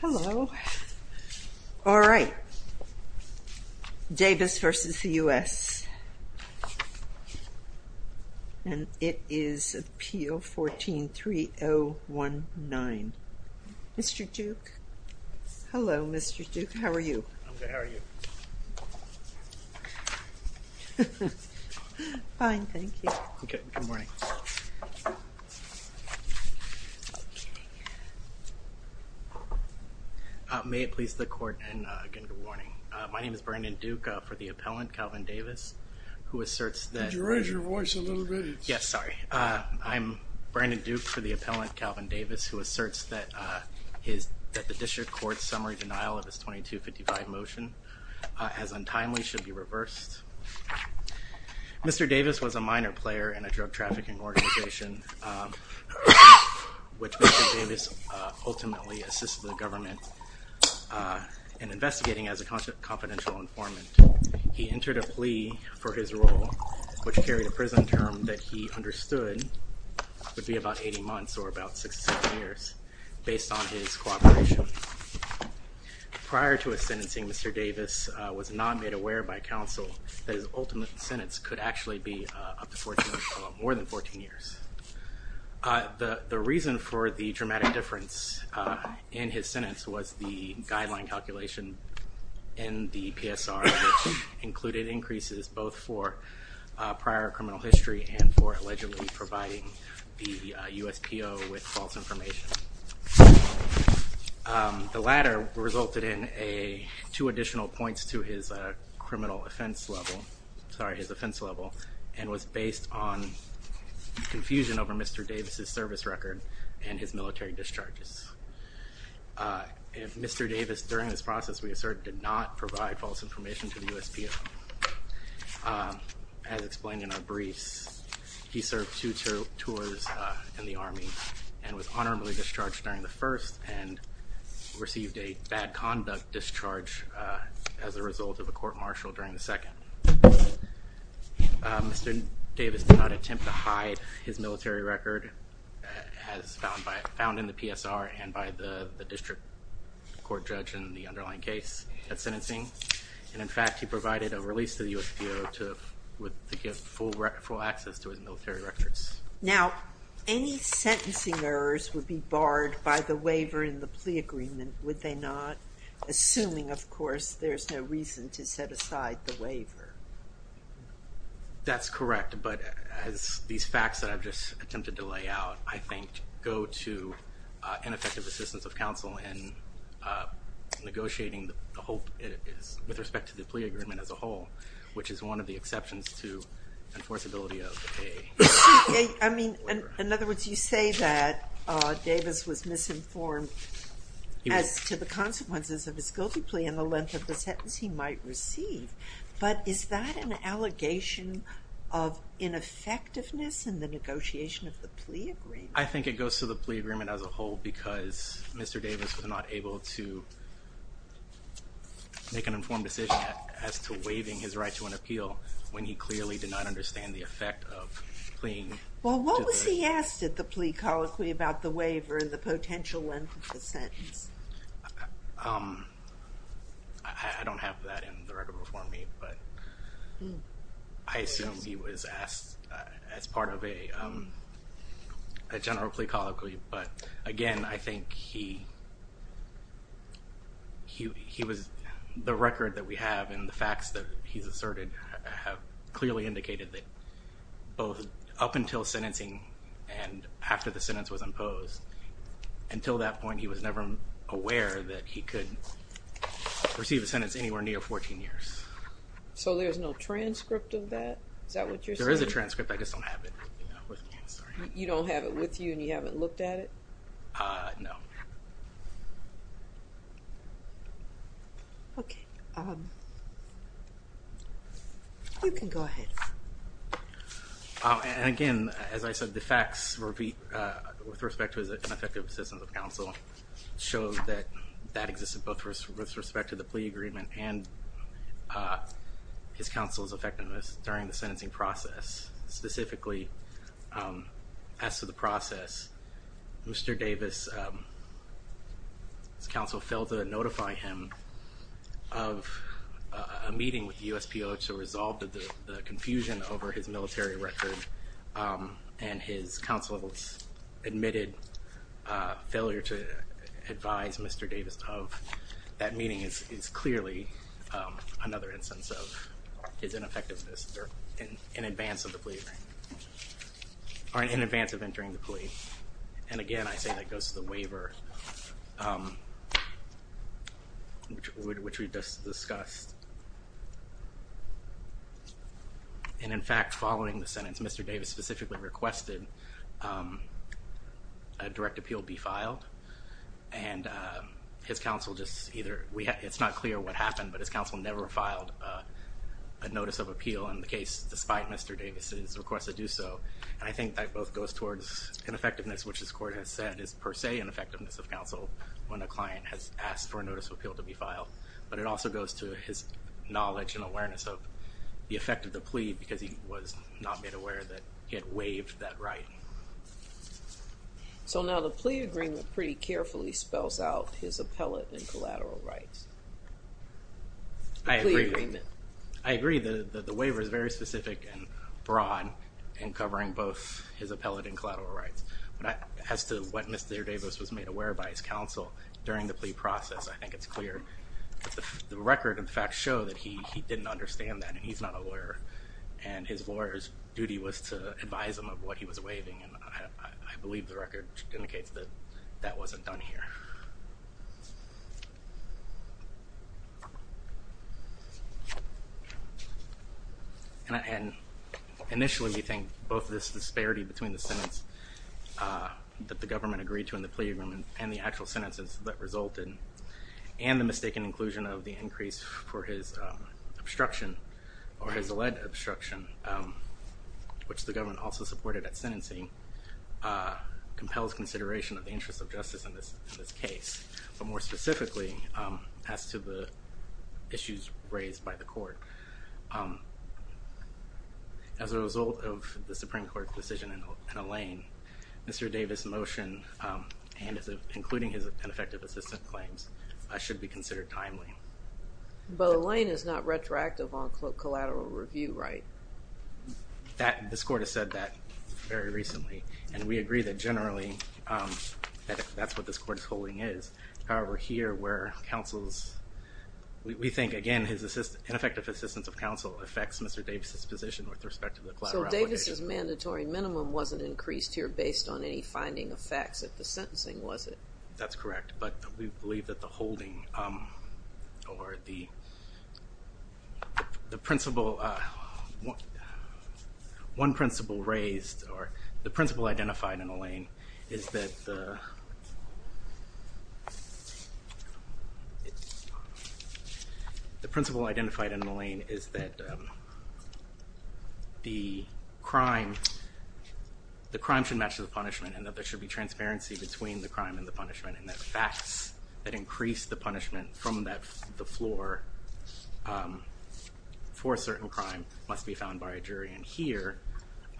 Hello. All right. Davis v. the U.S. and it is appeal 14-3019. Mr. Duke. Hello, Mr. Duke. How are you? May it please the court and again good morning. My name is Brandon Duke for the appellant Calvin Davis who asserts that... Could you raise your voice a little bit? Yes, sorry. I'm Brandon Duke for the appellant Calvin Davis who asserts that his that the district court's summary denial of his 2255 motion as untimely should be reversed. Mr. Davis was a minor player in a drug trafficking organization which ultimately assisted the government in investigating as a confidential informant. He entered a plea for his role which carried a prison term that he understood would be about 80 months or about six years based on his cooperation. Prior to his sentencing, Mr. Davis was not made aware by counsel that his ultimate sentence could actually be up to 14, more than 14 years. The reason for the dramatic difference in his sentence was the guideline calculation in the PSR which included increases both for prior criminal history and for allegedly providing the USPO with false information. The latter resulted in a two additional points to his criminal offense level, sorry, his offense level and was based on confusion over Mr. Davis's service record and his military discharges. Mr. Davis during this process we assert did not provide false information to the USPO. As explained in our briefs, he served two tours in the Army and was honorably discharged during the first and received a bad conduct discharge as a result of a court-martial during the second. Mr. Davis did not attempt to hide his military record as found in the PSR and by the district court judge in the underlying case at sentencing and in fact he provided a release to the USPO to give full access to his military records. Now any sentencing errors would be barred by the waiver in the plea agreement, would they not? Assuming of course there's no reason to set aside the waiver. That's correct but as these facts that I've just attempted to lay out I think go to ineffective assistance of counsel in negotiating the whole, with respect to the plea agreement as a whole, which is one of the exceptions to the enforceability of a waiver. I mean in other words you say that Davis was misinformed as to the consequences of his guilty plea and the length of the sentence he might receive but is that an allegation of ineffectiveness in the negotiation of the plea agreement? I think it goes to the plea agreement as a whole because Mr. Davis was not able to make an informed decision as to waiving his right to an the effect of pleaing. Well what was he asked at the plea colloquy about the waiver and the potential length of the sentence? I don't have that in the record before me but I assume he was asked as part of a general plea colloquy but again I think he was, the record that we have and the facts that he's asserted have clearly indicated that both up until sentencing and after the sentence was imposed until that point he was never aware that he could receive a sentence anywhere near 14 years. So there's no transcript of that? Is that what you're saying? There is a transcript I just don't have it. You don't have it with you and you haven't looked at it? No. Okay, you can go ahead. And again as I said the facts repeat with respect to his ineffective assistance of counsel shows that that existed both with respect to the plea agreement and his counsel's effectiveness during the plea. Mr. Davis, his counsel failed to notify him of a meeting with the USPO to resolve the confusion over his military record and his counsel's admitted failure to advise Mr. Davis of that meeting is clearly another instance of his ineffectiveness in advance of the plea, or in advance of entering the plea. And again I say that goes to the waiver which we just discussed. And in fact following the sentence Mr. Davis specifically requested a direct appeal be filed and his counsel just either, it's not clear what happened but his counsel never filed a notice of appeal in the case despite Mr. Davis's request to do so. And I think that both goes towards ineffectiveness which this court has said is per se ineffectiveness of counsel when a client has asked for a notice of appeal to be filed. But it also goes to his knowledge and awareness of the effect of the plea because he was not made aware that he had waived that right. So now the plea agreement pretty carefully spells out his appellate and collateral rights. I agree that the waiver is very specific and broad in covering both his appellate and collateral rights. But as to what Mr. Davis was made aware by his counsel during the plea process I think it's clear. The record in fact show that he didn't understand that and he's not a lawyer and his lawyer's duty was to advise him of what he was waiving and I believe the record indicates that that wasn't done here. And initially we think both this disparity between the sentence that the government agreed to in the plea agreement and the actual sentences that resulted and the mistaken inclusion of the increase for his obstruction or his alleged obstruction which the government also supported at sentencing compels consideration of the interest of justice in this in this case. But more specifically as to the issues raised by the court. As a result of the Supreme Court decision in Alain, Mr. Davis' motion and including his ineffective assistant claims should be considered timely. But Alain is not retroactive on collateral review right? That, this court has said that very recently and we agree that generally that's what this court is holding is. However here where counsel's, we think again his ineffective assistance of counsel affects Mr. Davis' position with respect to the collateral obligation. So Davis' mandatory minimum wasn't increased here based on any finding of facts at the sentencing was it? That's correct but we believe that the holding or the the principle, one principle raised or the principle identified in Alain is that the principle identified in Alain is that the crime, the crime should match the punishment and that there should be transparency between the crime and the punishment and that facts that increase the punishment from that the floor for a certain crime must be found by a jury. And here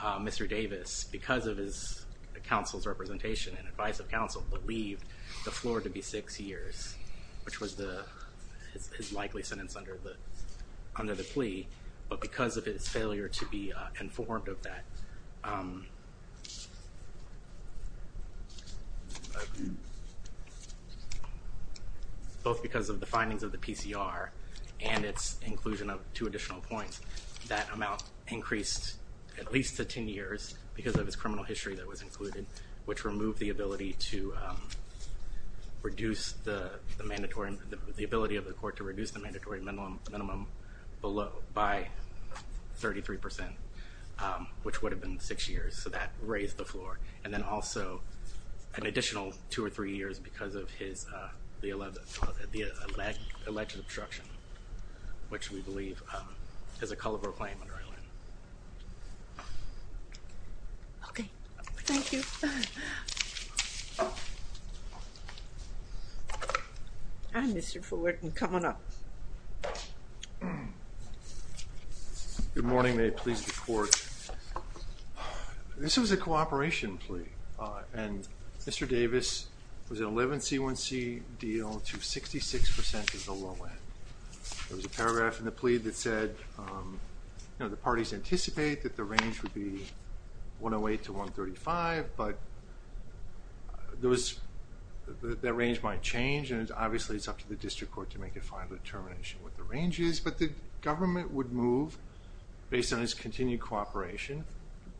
Mr. Davis because of his counsel's representation and advice of counsel believed the floor to be six years which was the his likely sentence under the under the plea but because of his failure to be informed of that both because of the findings of the PCR and its inclusion of two additional points that amount increased at least to ten years because of his criminal history that was included which removed the ability to reduce the mandatory the ability of the court to reduce the mandatory minimum below by 33% which would have been six years so that raised the floor and then also an additional two or three years because of his the alleged obstruction which we believe has a culpable claim under Alain. Okay, thank you. Mr. Fullerton, come on up. Good morning, may it please the court. This was a cooperation plea and Mr. Davis was an 11 C1C deal to 66% of the low end. There was a paragraph in the plea that said you know the parties anticipate that the range would be 108 to 135 but there was that range might change and obviously it's up to the district court to make a final determination what the range is but the government would move based on his continued cooperation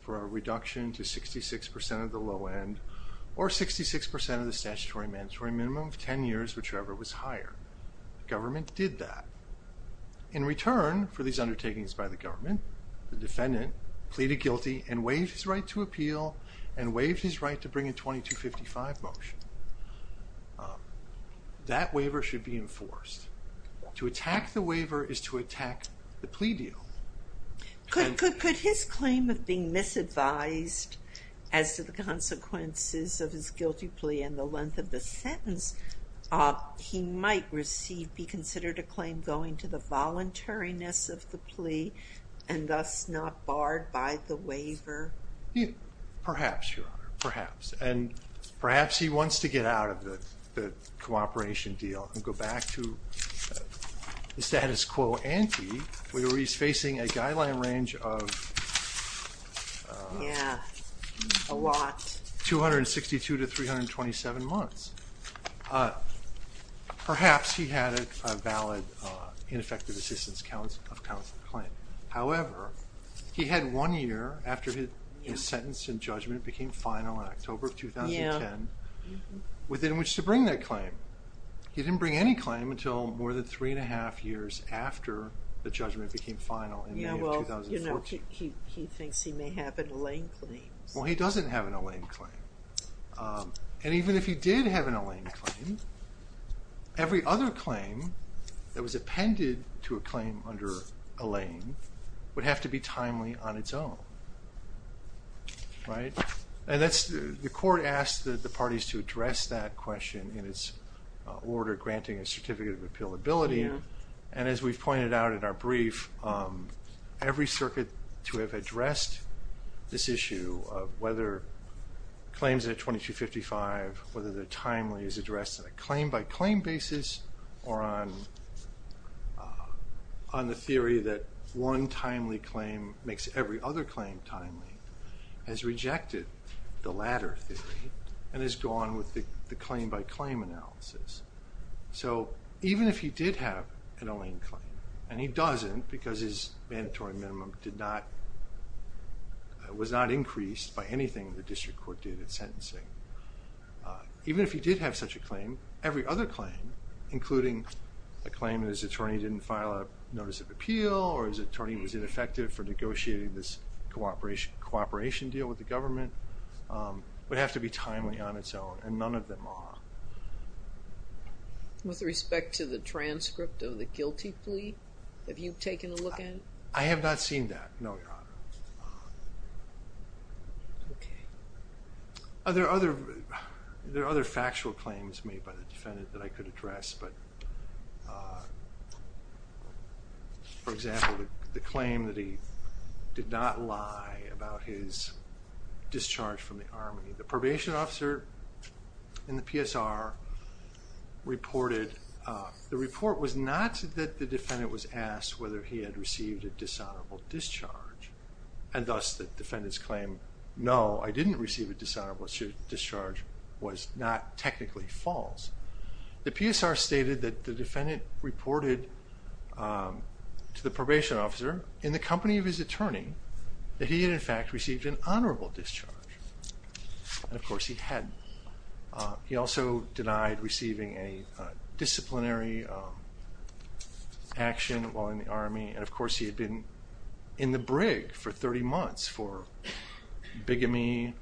for a reduction to 66% of the low end or 66% of the statutory mandatory minimum of ten years whichever was higher. Government did that. In return for these undertakings by the government, the defendant pleaded guilty and waived his right to appeal and waived his right to bring a 2255 motion. That waiver should be enforced. To attack the waiver is to attack the plea deal. Could his claim of being misadvised as to the consequences of his guilty plea and the length of the sentence he might receive be considered a claim going to the voluntariness of the plea and thus not barred by the waiver? Perhaps, perhaps and perhaps he wants to get out of the cooperation deal and go back to the status quo ante where he's facing a guideline range of 262 to 327 months. Perhaps he had a valid ineffective assistance counts of counsel claim. However, he had one year after his sentence and judgment became final in October of 2010 within which to bring that claim. He didn't bring any claim until more than three and a half years after the judgment became final in May of 2014. He thinks he may have an Allain claim. Well, he doesn't have an Allain claim and even if he did have an Allain claim, every other claim that was appended to a claim under Allain would have to be timely on its own, right? And that's the court asked that the parties to address that question in its order granting a certificate of and as we've pointed out in our brief, every circuit to have addressed this issue of whether claims at 2255, whether they're timely is addressed in a claim by claim basis or on the theory that one timely claim makes every other claim timely has rejected the latter theory and has gone with the claim by claim analysis. So even if he did have an Allain claim and he doesn't because his mandatory minimum did not, was not increased by anything the district court did at sentencing, even if he did have such a claim, every other claim including a claim that his attorney didn't file a notice of appeal or his attorney was ineffective for negotiating this cooperation cooperation deal with the With respect to the transcript of the guilty plea, have you taken a look at it? I have not seen that, no, Your Honor. Are there other, there are other factual claims made by the defendant that I could address but for example, the claim that he did not lie about his discharge from the Army. The probation officer in the PSR reported, the report was not that the defendant was asked whether he had received a dishonorable discharge and thus the defendant's claim, no I didn't receive a dishonorable discharge was not technically false. The PSR stated that the defendant reported to the probation officer in the company of his attorney that he had in fact received an and of course he hadn't. He also denied receiving a disciplinary action while in the Army and of course he had been in the brig for 30 months for bigamy,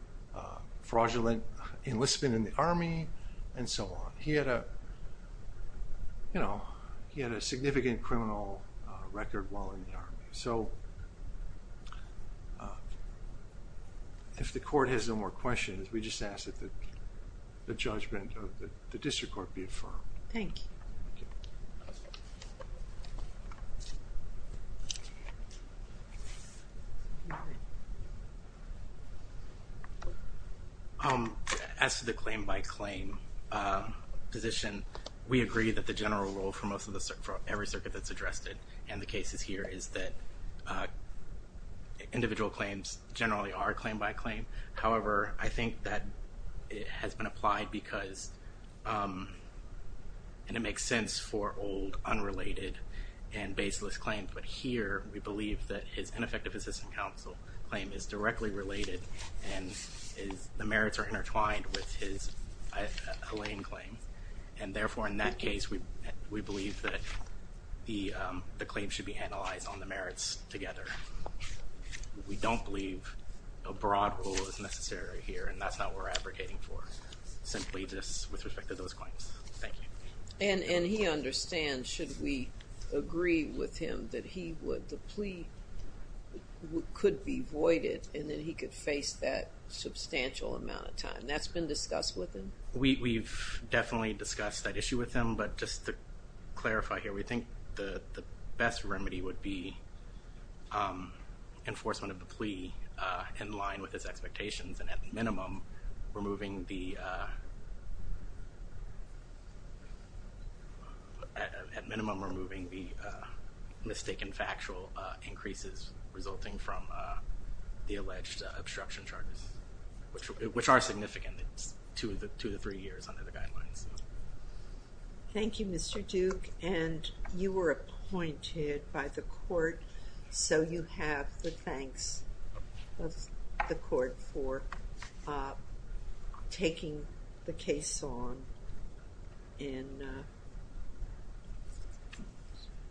fraudulent enlistment in the Army and so on. He had a, you know, he had a more questions, we just ask that the judgment of the District Court be affirmed. Thank you. As for the claim by claim position, we agree that the general rule for most of the, for every circuit that's addressed it and the cases here is that individual claims generally are claim by claim. However, I think that it has been applied because, and it makes sense for old unrelated and baseless claims, but here we believe that his ineffective assistant counsel claim is directly related and the merits are intertwined with his Elaine claim and therefore in that case we believe that the claim should be analyzed on the merits together. We don't believe a broad rule is necessary here and that's not what we're advocating for. Simply just with respect to those claims. Thank you. And he understands, should we agree with him, that he would, the plea could be voided and then he could face that substantial amount of time. That's been discussed with him? We've definitely discussed that issue with him but just to clarify here, we think the best remedy would be enforcement of the plea in line with his expectations and at minimum removing the, at minimum removing the mistaken factual increases resulting from the alleged obstruction charges, which are significant. It's two to three years under the guidelines. Thank you Mr. Duke and you were appointed by the court so you have the thanks of the court for taking the case on in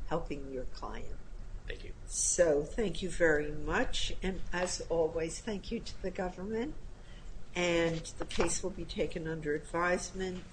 helping your client. Thank you. So thank you very much and as always thank you to the government and the case will be taken under advisement.